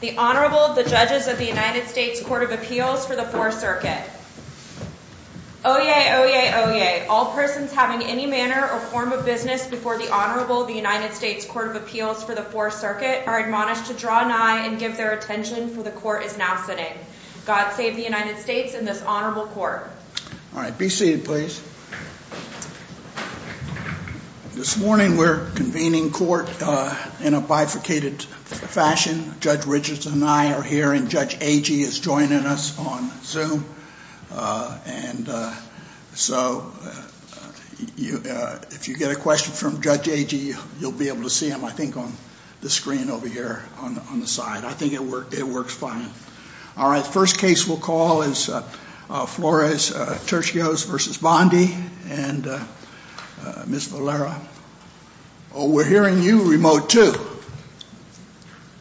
The Honorable, the Judges of the United States Court of Appeals for the Fourth Circuit. Oyez, oyez, oyez. All persons having any manner or form of business before the Honorable, the United States Court of Appeals for the Fourth Circuit, are admonished to draw nigh and give their attention, for the Court is now sitting. God save the United States and this Honorable Court. All right. Be seated, please. This morning we're convening court in a bifurcated fashion. Judge Richardson and I are here and Judge Agee is joining us on Zoom. And so if you get a question from Judge Agee, you'll be able to see him, I think, on the screen over here on the side. I think it works fine. All right. First case we'll call is Flores-Turcios v. Bondi and Ms. Valera. Oh, we're hearing you remote, too.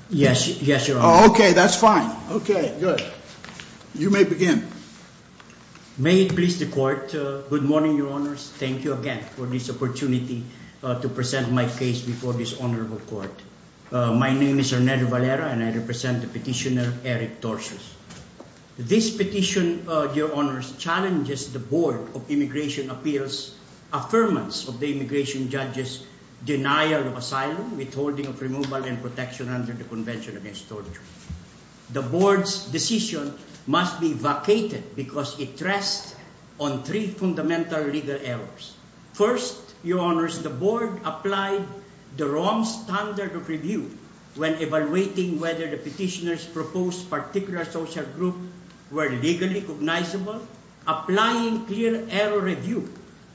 Yes, Your Honor. Okay, that's fine. Okay, good. You may begin. May it please the Court, good morning, Your Honors. Thank you again for this opportunity to present my case before this Honorable Court. My name is Hernando Valera and I represent the petitioner Eric Turcios. This petition, Your Honors, challenges the Board of Immigration Appeals' affirmance of the immigration judge's denial of asylum, withholding of removal and protection under the Convention Against Torture. The Board's decision must be vacated because it rests on three fundamental legal errors. First, Your Honors, the Board applied the wrong standard of review when evaluating whether the petitioner's proposed particular social group were legally cognizable, applying clear error review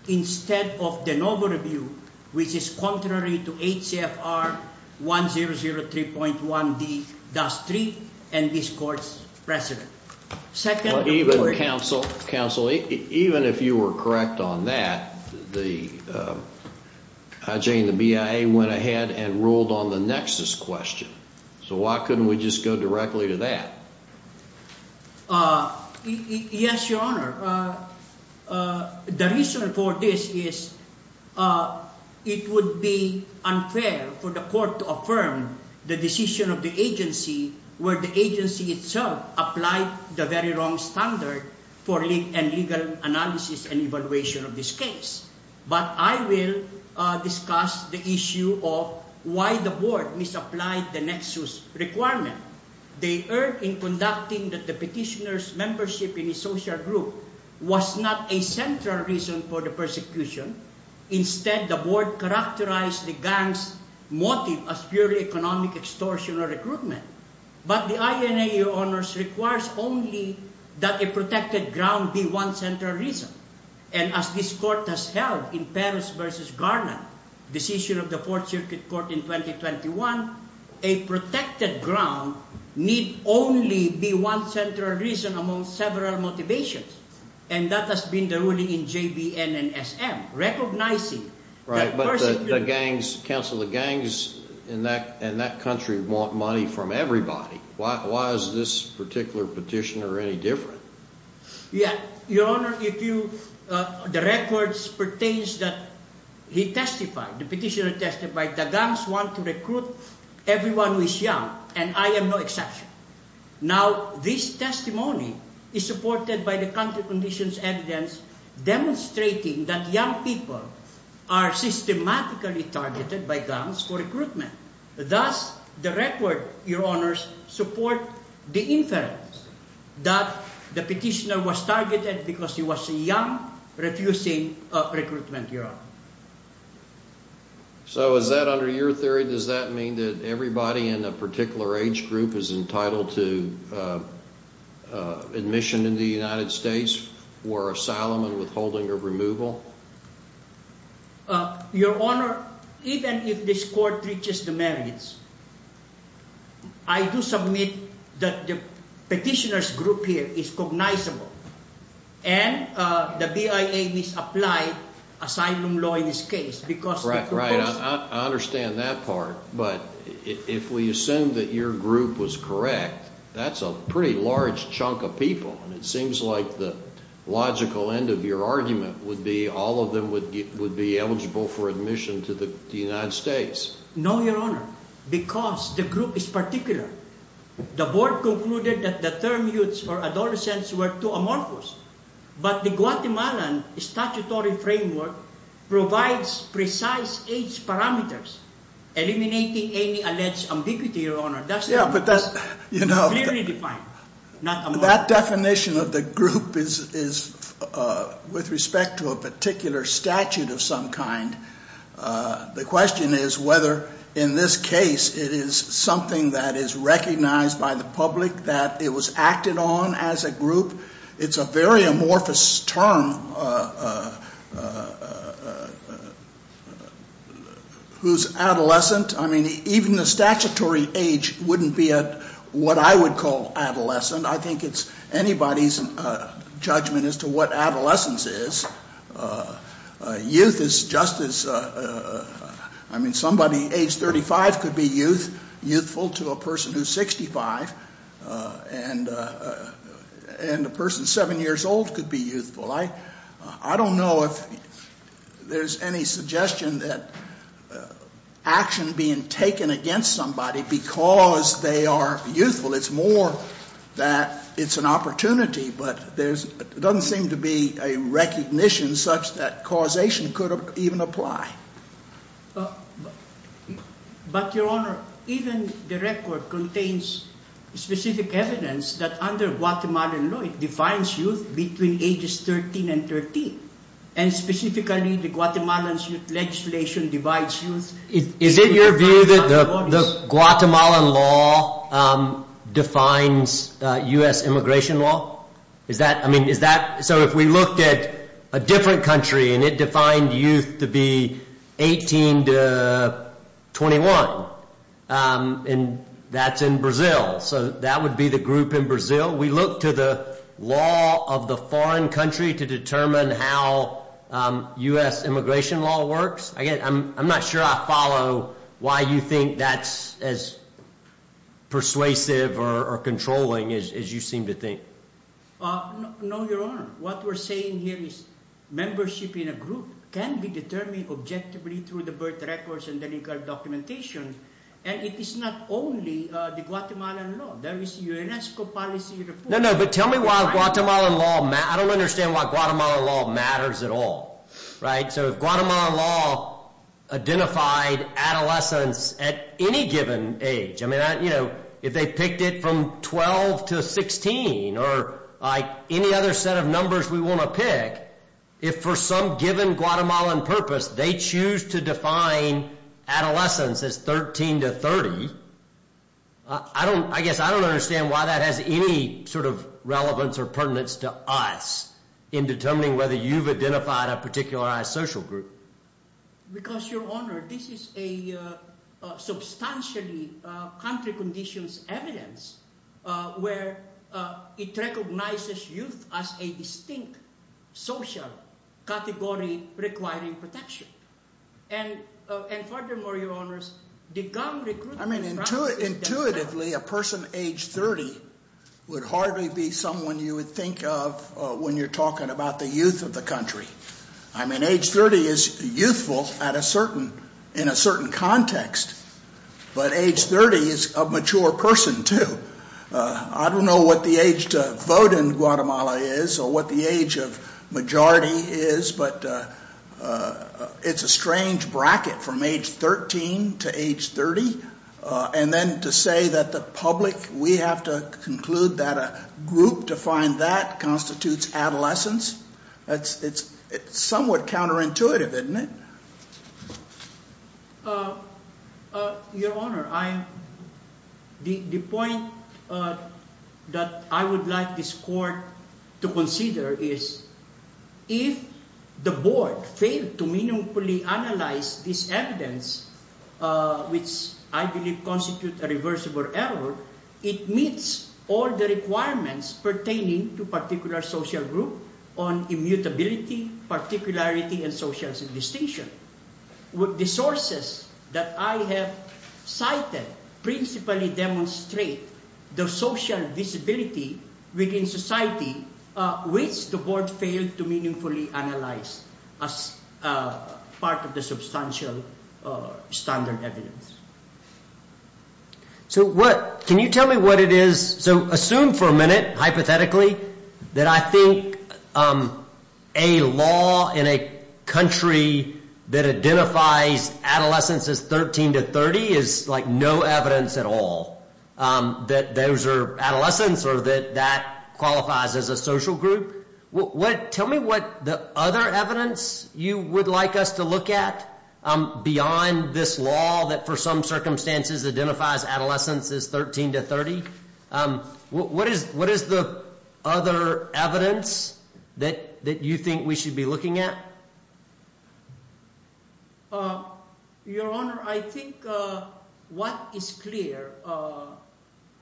instead of de novo review, which is contrary to HCFR 1003.1D-3 and this Court's precedent. Even, Counsel, even if you were correct on that, the IJ and the BIA went ahead and ruled on the nexus question. So why couldn't we just go directly to that? Yes, Your Honor. The reason for this is it would be unfair for the Court to affirm the decision of the agency where the agency itself applied the very wrong standard for legal analysis and evaluation of this case. But I will discuss the issue of why the Board misapplied the nexus requirement. The error in conducting the petitioner's membership in a social group was not a central reason for the persecution. Instead, the Board characterized the gang's motive as purely economic extortion or recruitment. But the INA, Your Honors, requires only that a protected ground be one central reason. And as this Court has held in Paris v. Garnet, decision of the Fourth Circuit Court in 2021, a protected ground need only be one central reason among several motivations. And that has been the ruling in JBN and SM, recognizing that persecution... Right, but the gangs, Counsel, the gangs in that country want money from everybody. Why is this particular petitioner any different? Yes, Your Honor, the records pertain that he testified, the petitioner testified that gangs want to recruit everyone who is young, and I am no exception. Now, this testimony is supported by the country conditions evidence demonstrating that young people are systematically targeted by gangs for recruitment. Thus, the record, Your Honors, supports the inference that the petitioner was targeted because he was young, refusing recruitment, Your Honor. So is that under your theory, does that mean that everybody in a particular age group is entitled to admission into the United States for asylum and withholding of removal? Your Honor, even if this Court reaches the merits, I do submit that the petitioner's group here is cognizable, and the BIA misapplied asylum law in this case because... Right, I understand that part, but if we assume that your group was correct, that's a pretty large chunk of people. It seems like the logical end of your argument would be all of them would be eligible for admission to the United States. No, Your Honor, because the group is particular. The board concluded that the term youths or adolescents were too amorphous, but the Guatemalan statutory framework provides precise age parameters, eliminating any alleged ambiguity, Your Honor. That definition of the group is with respect to a particular statute of some kind. The question is whether in this case it is something that is recognized by the public that it was acted on as a group. It's a very amorphous term. Who's adolescent? I mean, even the statutory age wouldn't be what I would call adolescent. I think it's anybody's judgment as to what adolescence is. Youth is just as... I mean, somebody age 35 could be youthful to a person who's 65, and a person 7 years old could be youthful. I don't know if there's any suggestion that action being taken against somebody because they are youthful, it's more that it's an opportunity, but there doesn't seem to be a recognition such that causation could even apply. But, Your Honor, even the record contains specific evidence that under Guatemalan law it defines youth between ages 13 and 13, and specifically the Guatemalan legislation divides youth... Is it your view that the Guatemalan law defines U.S. immigration law? So if we looked at a different country and it defined youth to be 18 to 21, and that's in Brazil, so that would be the group in Brazil. We look to the law of the foreign country to determine how U.S. immigration law works? Again, I'm not sure I follow why you think that's as persuasive or controlling as you seem to think. No, Your Honor. What we're saying here is membership in a group can be determined objectively through the birth records and the legal documentation, and it is not only the Guatemalan law. There is UNESCO policy... No, no, but tell me why the Guatemalan law... I don't understand why Guatemalan law matters at all, right? So if Guatemalan law identified adolescence at any given age, I mean, you know, if they picked it from 12 to 16 or any other set of numbers we want to pick, if for some given Guatemalan purpose they choose to define adolescence as 13 to 30, I guess I don't understand why that has any sort of relevance or pertinence to us in determining whether you've identified a particularized social group. Because, Your Honor, this is a substantially country conditions evidence where it recognizes youth as a distinct social category requiring protection. And furthermore, Your Honors, the government... I mean, intuitively a person age 30 would hardly be someone you would think of when you're talking about the youth of the country. I mean, age 30 is youthful in a certain context, but age 30 is a mature person too. I don't know what the age to vote in Guatemala is or what the age of majority is, but it's a strange bracket from age 13 to age 30. And then to say that the public, we have to conclude that a group defined that constitutes adolescence, it's somewhat counterintuitive, isn't it? Your Honor, the point that I would like this Court to consider is if the Board failed to meaningfully analyze this evidence, which I believe constitutes a reversible error, it meets all the requirements pertaining to particular social group on immutability, particularity, and social distinction. The sources that I have cited principally demonstrate the social visibility within society which the Board failed to meaningfully analyze as part of the substantial standard evidence. So what... Can you tell me what it is... So assume for a minute, hypothetically, that I think a law in a country that identifies adolescence as 13 to 30 is like no evidence at all that those are adolescents or that that qualifies as a social group. Tell me what the other evidence you would like us to look at beyond this law that for some circumstances identifies adolescence as 13 to 30. What is the other evidence that you think we should be looking at? Your Honor, I think what is clear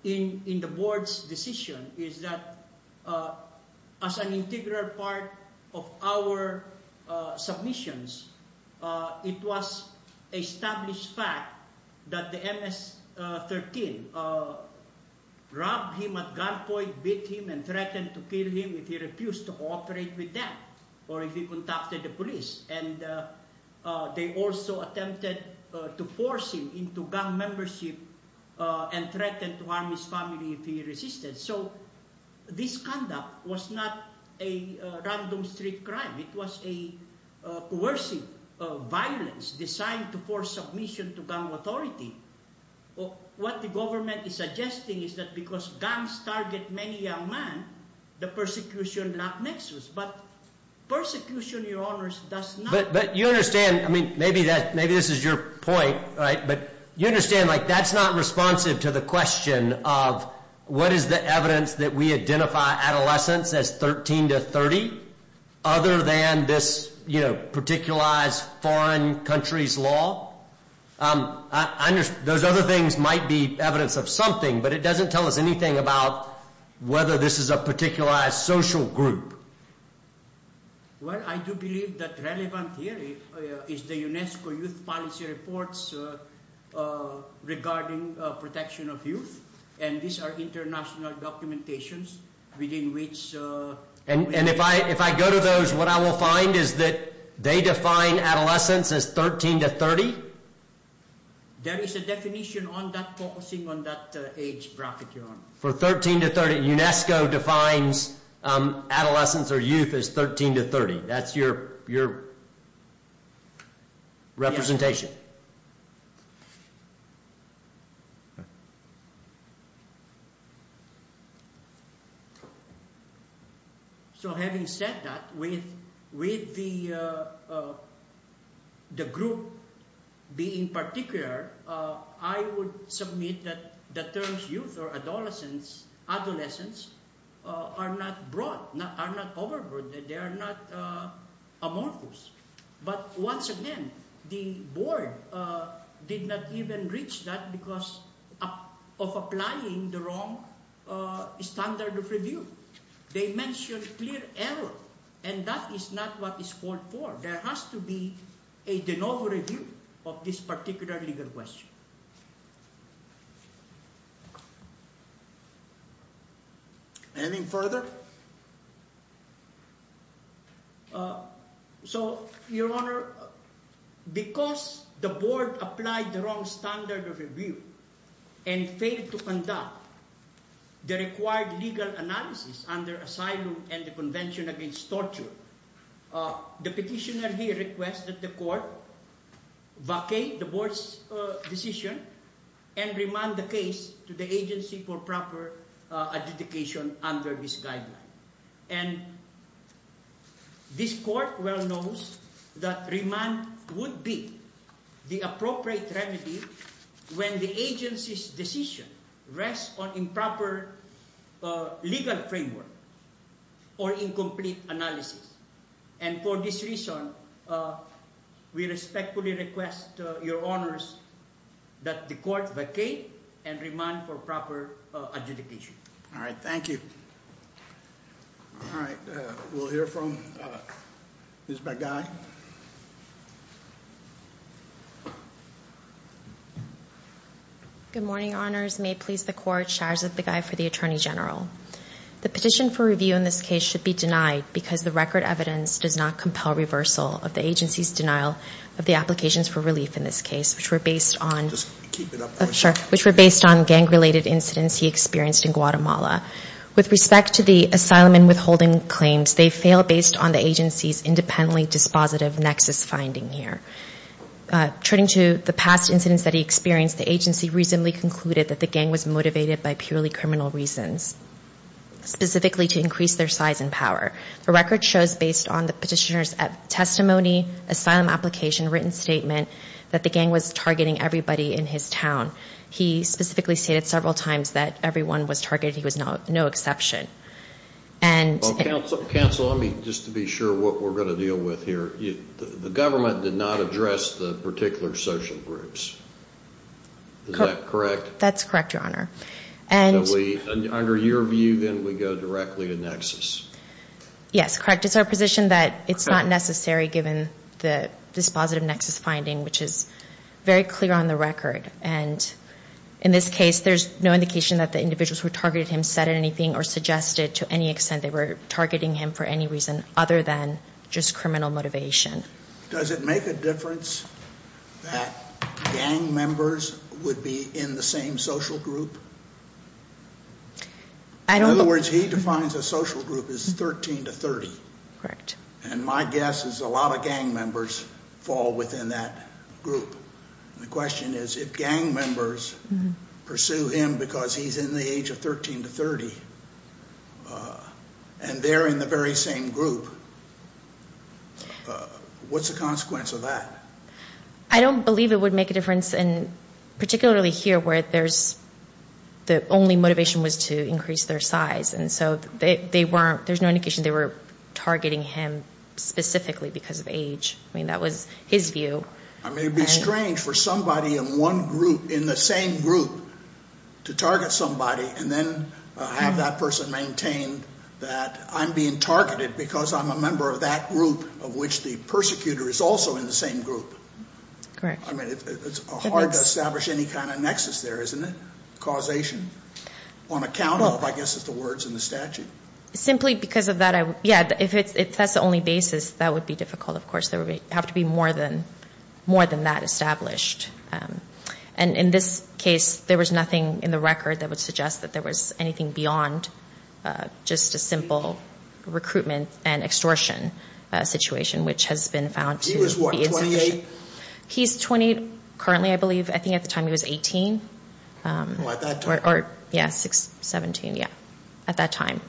in the Board's decision is that as an integral part of our submissions, it was established fact that the MS-13 robbed him at gunpoint, beat him, and threatened to kill him if he refused to cooperate with them or if he contacted the police. And they also attempted to force him into gun membership and threatened to harm his family if he resisted. So this conduct was not a random street crime. It was a coercive violence designed to force submission to gun authority. What the government is suggesting is that because guns target many young men, the persecution not nexus. But persecution, Your Honors, does not... But you understand... I mean, maybe this is your point, right? But you understand, like, that's not responsive to the question of what is the evidence that we identify adolescence as 13 to 30 other than this, you know, particularized foreign countries law. Those other things might be evidence of something, but it doesn't tell us anything about whether this is a particularized social group. Well, I do believe that relevant here is the UNESCO Youth Policy Reports regarding protection of youth. And these are international documentations within which... And if I go to those, what I will find is that they define adolescence as 13 to 30? There is a definition on that focusing on that age bracket, Your Honor. For 13 to 30, UNESCO defines adolescence or youth as 13 to 30. That's your representation. So having said that, with the group being particular, I would submit that the terms youth or adolescence are not broad, are not overbroad. They are not amorphous. But once again, the board did not even reach that because of applying the wrong standard of review. They mentioned clear error, and that is not what is called for. There has to be a de novo review of this particular legal question. Anything further? So, Your Honor, because the board applied the wrong standard of review and failed to conduct the required legal analysis under asylum and the Convention Against Torture, the petitioner here requested the court vacate the board's decision and remand the case to the agency for proper adjudication under this guideline. And this court well knows that remand would be the appropriate remedy when the agency's decision rests on improper legal framework or incomplete analysis. And for this reason, we respectfully request, Your Honors, that the court vacate and remand for proper adjudication. All right, thank you. All right, we'll hear from Ms. Begay. Good morning, Your Honors. May it please the court, Sharza Begay for the Attorney General. The petition for review in this case should be denied because the record evidence does not compel reversal of the agency's denial of the applications for relief in this case, which were based on gang-related incidents he experienced in Guatemala. With respect to the asylum and withholding claims, they fail based on the agency's independently dispositive nexus finding here. Turning to the past incidents that he experienced, the agency reasonably concluded that the gang was motivated by purely criminal reasons, specifically to increase their size and power. The record shows, based on the petitioner's testimony, asylum application, written statement, that the gang was targeting everybody in his town. He specifically stated several times that everyone was targeted. He was no exception. Counsel, just to be sure what we're going to deal with here, the government did not address the particular social groups. Is that correct? That's correct, Your Honor. Under your view, then, we go directly to nexus. Yes, correct. It's our position that it's not necessary given the dispositive nexus finding, which is very clear on the record. And in this case, there's no indication that the individuals who targeted him said anything or suggested to any extent they were targeting him for any reason other than just criminal motivation. Does it make a difference that gang members would be in the same social group? In other words, he defines a social group as 13 to 30. Correct. And my guess is a lot of gang members fall within that group. The question is if gang members pursue him because he's in the age of 13 to 30 and they're in the very same group, what's the consequence of that? I don't believe it would make a difference, particularly here where the only motivation was to increase their size. And so there's no indication they were targeting him specifically because of age. I mean, that was his view. I mean, it would be strange for somebody in one group, in the same group, to target somebody and then have that person maintain that I'm being targeted because I'm a member of that group of which the persecutor is also in the same group. Correct. I mean, it's hard to establish any kind of nexus there, isn't it, causation, on account of, I guess, the words in the statute? Simply because of that, yeah, if that's the only basis, that would be difficult, of course. There would have to be more than that established. And in this case, there was nothing in the record that would suggest that there was anything beyond just a simple recruitment and extortion situation, which has been found to be insufficient. He was what, 28? He's 28 currently, I believe. I think at the time he was 18. Well, at that time. Or, yeah, 17, yeah, at that time.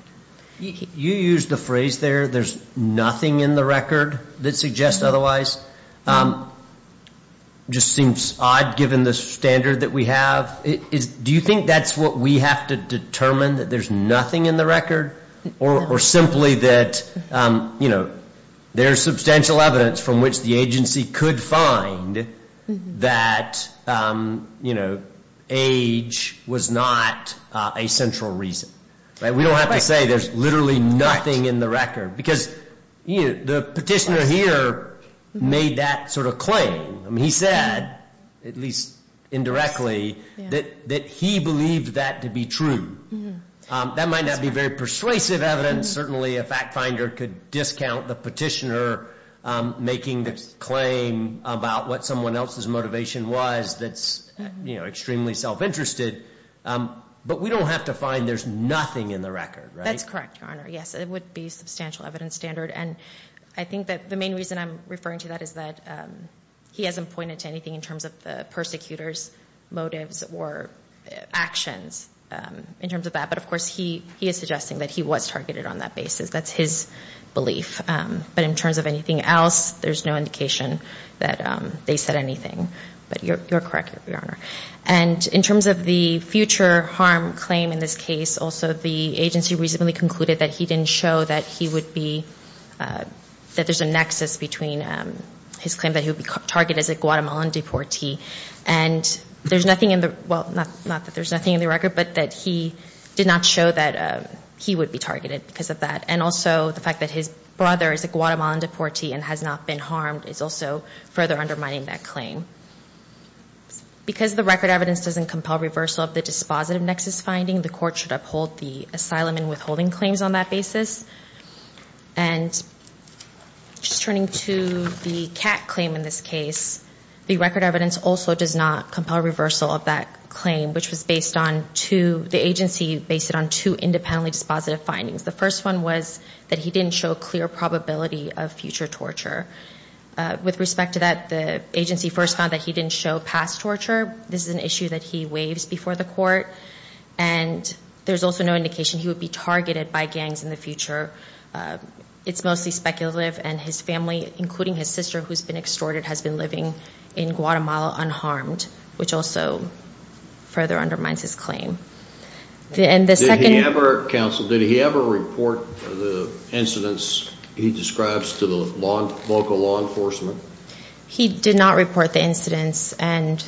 You used the phrase there, there's nothing in the record that suggests otherwise. It just seems odd, given the standard that we have. Do you think that's what we have to determine, that there's nothing in the record? Or simply that, you know, there's substantial evidence from which the agency could find that, you know, age was not a central reason. We don't have to say there's literally nothing in the record. Because the petitioner here made that sort of claim. I mean, he said, at least indirectly, that he believed that to be true. That might not be very persuasive evidence. Certainly a fact finder could discount the petitioner making the claim about what someone else's motivation was that's, you know, extremely self-interested. But we don't have to find there's nothing in the record, right? That's correct, Your Honor. Yes, it would be a substantial evidence standard. And I think that the main reason I'm referring to that is that he hasn't pointed to anything in terms of the persecutor's motives or actions in terms of that. But, of course, he is suggesting that he was targeted on that basis. That's his belief. But in terms of anything else, there's no indication that they said anything. But you're correct, Your Honor. And in terms of the future harm claim in this case, also the agency reasonably concluded that he didn't show that he would be, that there's a nexus between his claim that he would be targeted as a Guatemalan deportee. And there's nothing in the, well, not that there's nothing in the record, but that he did not show that he would be targeted because of that. And also the fact that his brother is a Guatemalan deportee and has not been harmed is also further undermining that claim. Because the record evidence doesn't compel reversal of the dispositive nexus finding, the court should uphold the asylum and withholding claims on that basis. And just turning to the CAC claim in this case, the record evidence also does not compel reversal of that claim, which was based on two, the agency based it on two independently dispositive findings. The first one was that he didn't show clear probability of future torture. With respect to that, the agency first found that he didn't show past torture. This is an issue that he waives before the court. And there's also no indication he would be targeted by gangs in the future. It's mostly speculative. And his family, including his sister, who's been extorted, has been living in Guatemala unharmed, which also further undermines his claim. Did he ever, counsel, did he ever report the incidents he describes to the local law enforcement? He did not report the incidents. And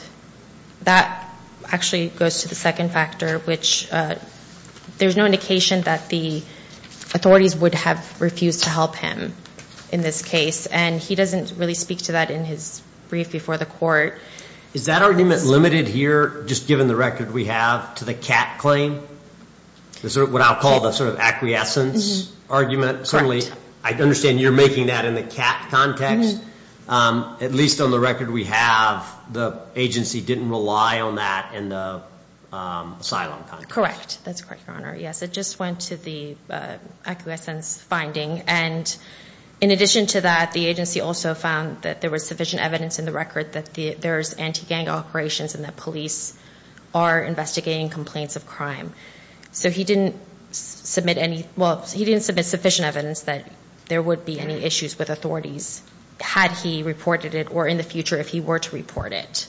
that actually goes to the second factor, which there's no indication that the authorities would have refused to help him in this case. And he doesn't really speak to that in his brief before the court. Is that argument limited here, just given the record we have, to the CAT claim? Is it what I'll call the sort of acquiescence argument? Certainly, I understand you're making that in the CAT context. At least on the record we have, the agency didn't rely on that in the asylum context. Correct. That's correct, Your Honor. Yes, it just went to the acquiescence finding. And in addition to that, the agency also found that there was sufficient evidence in the record that there's anti-gang operations and that police are investigating complaints of crime. So he didn't submit any, well, he didn't submit sufficient evidence that there would be any issues with authorities had he reported it or in the future if he were to report it.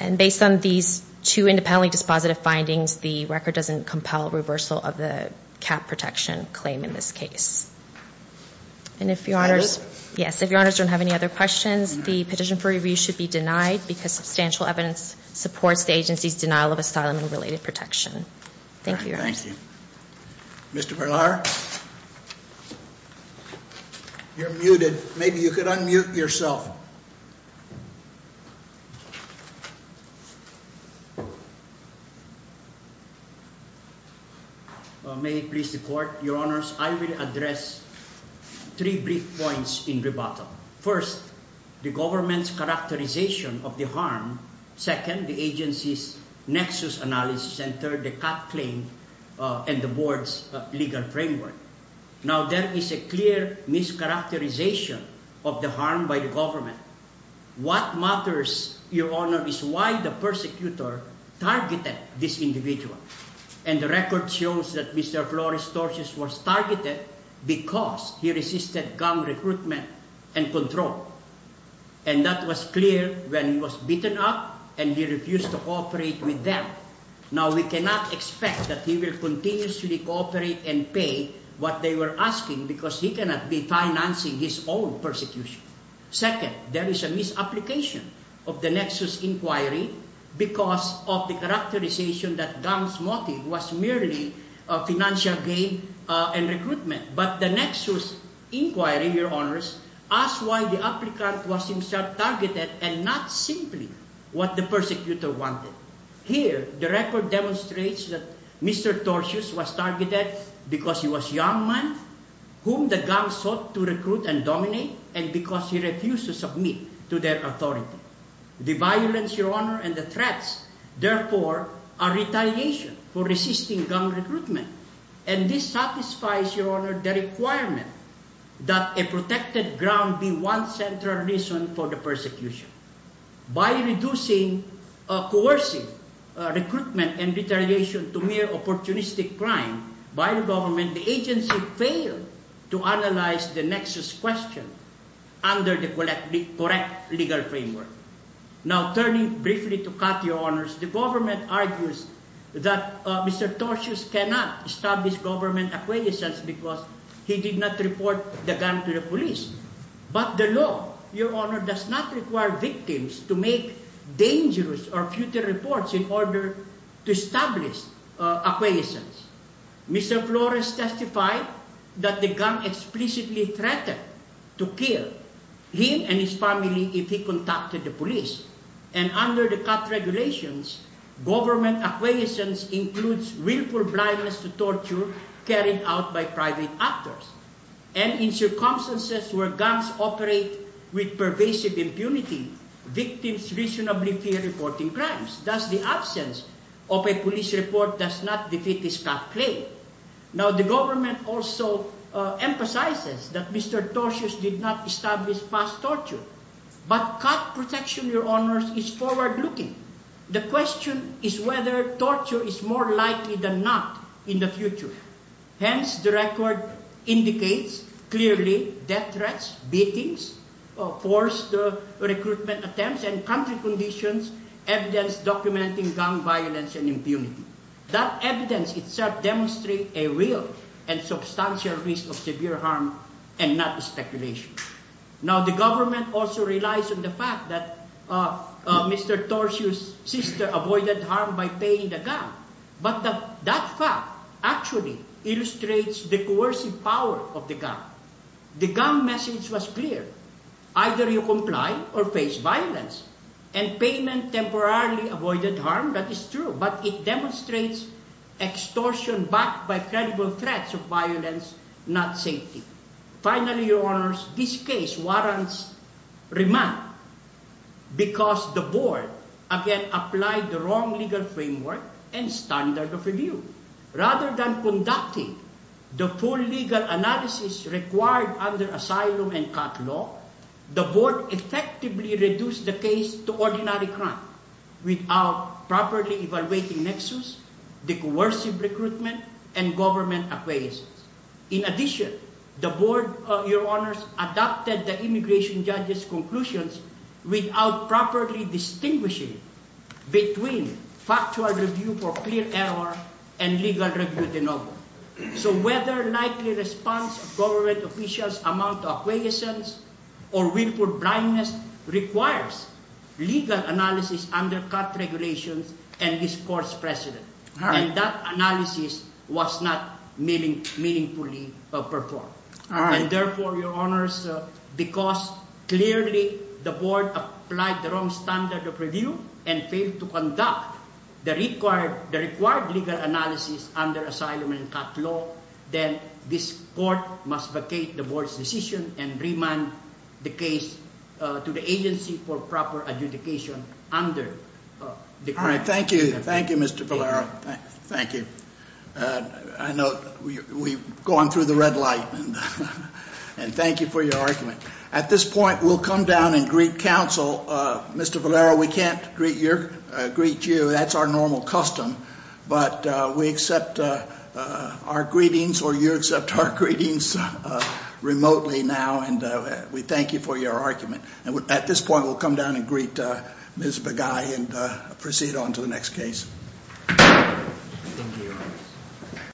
And based on these two independently dispositive findings, the record doesn't compel reversal of the CAT protection claim in this case. And if Your Honors, yes, if Your Honors don't have any other questions, the petition for review should be denied because substantial evidence supports the agency's denial of asylum and related protection. Thank you, Your Honors. Thank you. Mr. Berlar, you're muted. Maybe you could unmute yourself. May it please the Court, Your Honors, I will address three brief points in rebuttal. First, the government's characterization of the harm. Second, the agency's nexus analysis. And third, the CAT claim and the Board's legal framework. Now, there is a clear mischaracterization of the harm by the government. What matters, Your Honor, is why the persecutor targeted this individual. And the record shows that Mr. Flores-Torres was targeted because he resisted gun recruitment and control. And that was clear when he was beaten up and he refused to cooperate with them. Now, we cannot expect that he will continuously cooperate and pay what they were asking because he cannot be financing his own persecution. Second, there is a misapplication of the nexus inquiry because of the characterization that Gunn's motive was merely financial gain and recruitment. But the nexus inquiry, Your Honors, asks why the applicant was himself targeted and not simply what the persecutor wanted. Here, the record demonstrates that Mr. Torres was targeted because he was a young man whom the Gunn sought to recruit and dominate and because he refused to submit to their authority. The violence, Your Honor, and the threats, therefore, are retaliation for resisting gun recruitment. And this satisfies, Your Honor, the requirement that a protected ground be one central reason for the persecution. By reducing coercive recruitment and retaliation to mere opportunistic crime by the government, the agency failed to analyze the nexus question under the correct legal framework. Now, turning briefly to Kat, Your Honors, the government argues that Mr. Torres cannot establish government acquaintances because he did not report the gun to the police. But the law, Your Honor, does not require victims to make dangerous or futile reports in order to establish acquaintances. Mr. Flores testified that the Gunn explicitly threatened to kill him and his family if he contacted the police. And under the Kat regulations, government acquaintances includes willful blindness to torture carried out by private actors. And in circumstances where guns operate with pervasive impunity, victims reasonably fear reporting crimes. Thus, the absence of a police report does not defeat his Kat claim. Now, the government also emphasizes that Mr. Torres did not establish past torture. But Kat protection, Your Honors, is forward-looking. The question is whether torture is more likely than not in the future. Hence, the record indicates clearly death threats, beatings, forced recruitment attempts, and country conditions evidence documenting gun violence and impunity. That evidence itself demonstrates a real and substantial risk of severe harm and not speculation. Now, the government also relies on the fact that Mr. Torres' sister avoided harm by paying the gun. But that fact actually illustrates the coercive power of the gun. The gun message was clear. Either you comply or face violence. And payment temporarily avoided harm, that is true. But it demonstrates extortion backed by credible threats of violence, not safety. Finally, Your Honors, this case warrants remand because the Board, again, applied the wrong legal framework and standard of review. Rather than conducting the full legal analysis required under asylum and Kat law, the Board effectively reduced the case to ordinary crime without properly evaluating nexus, the coercive recruitment, and government acquiescence. In addition, the Board, Your Honors, adopted the immigration judge's conclusions without properly distinguishing between factual review for clear error and legal review de novo. So whether likely response of government officials amount to acquiescence or willful blindness requires legal analysis under Kat regulations and this Court's precedent. And that analysis was not meaningfully performed. And therefore, Your Honors, because clearly the Board applied the wrong standard of review and failed to conduct the required legal analysis under asylum and Kat law, then this Court must vacate the Board's decision and remand the case to the Agency for Proper Adjudication under the current... All right. Thank you. Thank you, Mr. Valero. Thank you. I know we've gone through the red light. And thank you for your argument. At this point, we'll come down and greet counsel. Mr. Valero, we can't greet you. That's our normal custom. But we accept our greetings or you accept our greetings remotely now. And we thank you for your argument. And at this point, we'll come down and greet Ms. Begay and proceed on to the next case. Thank you.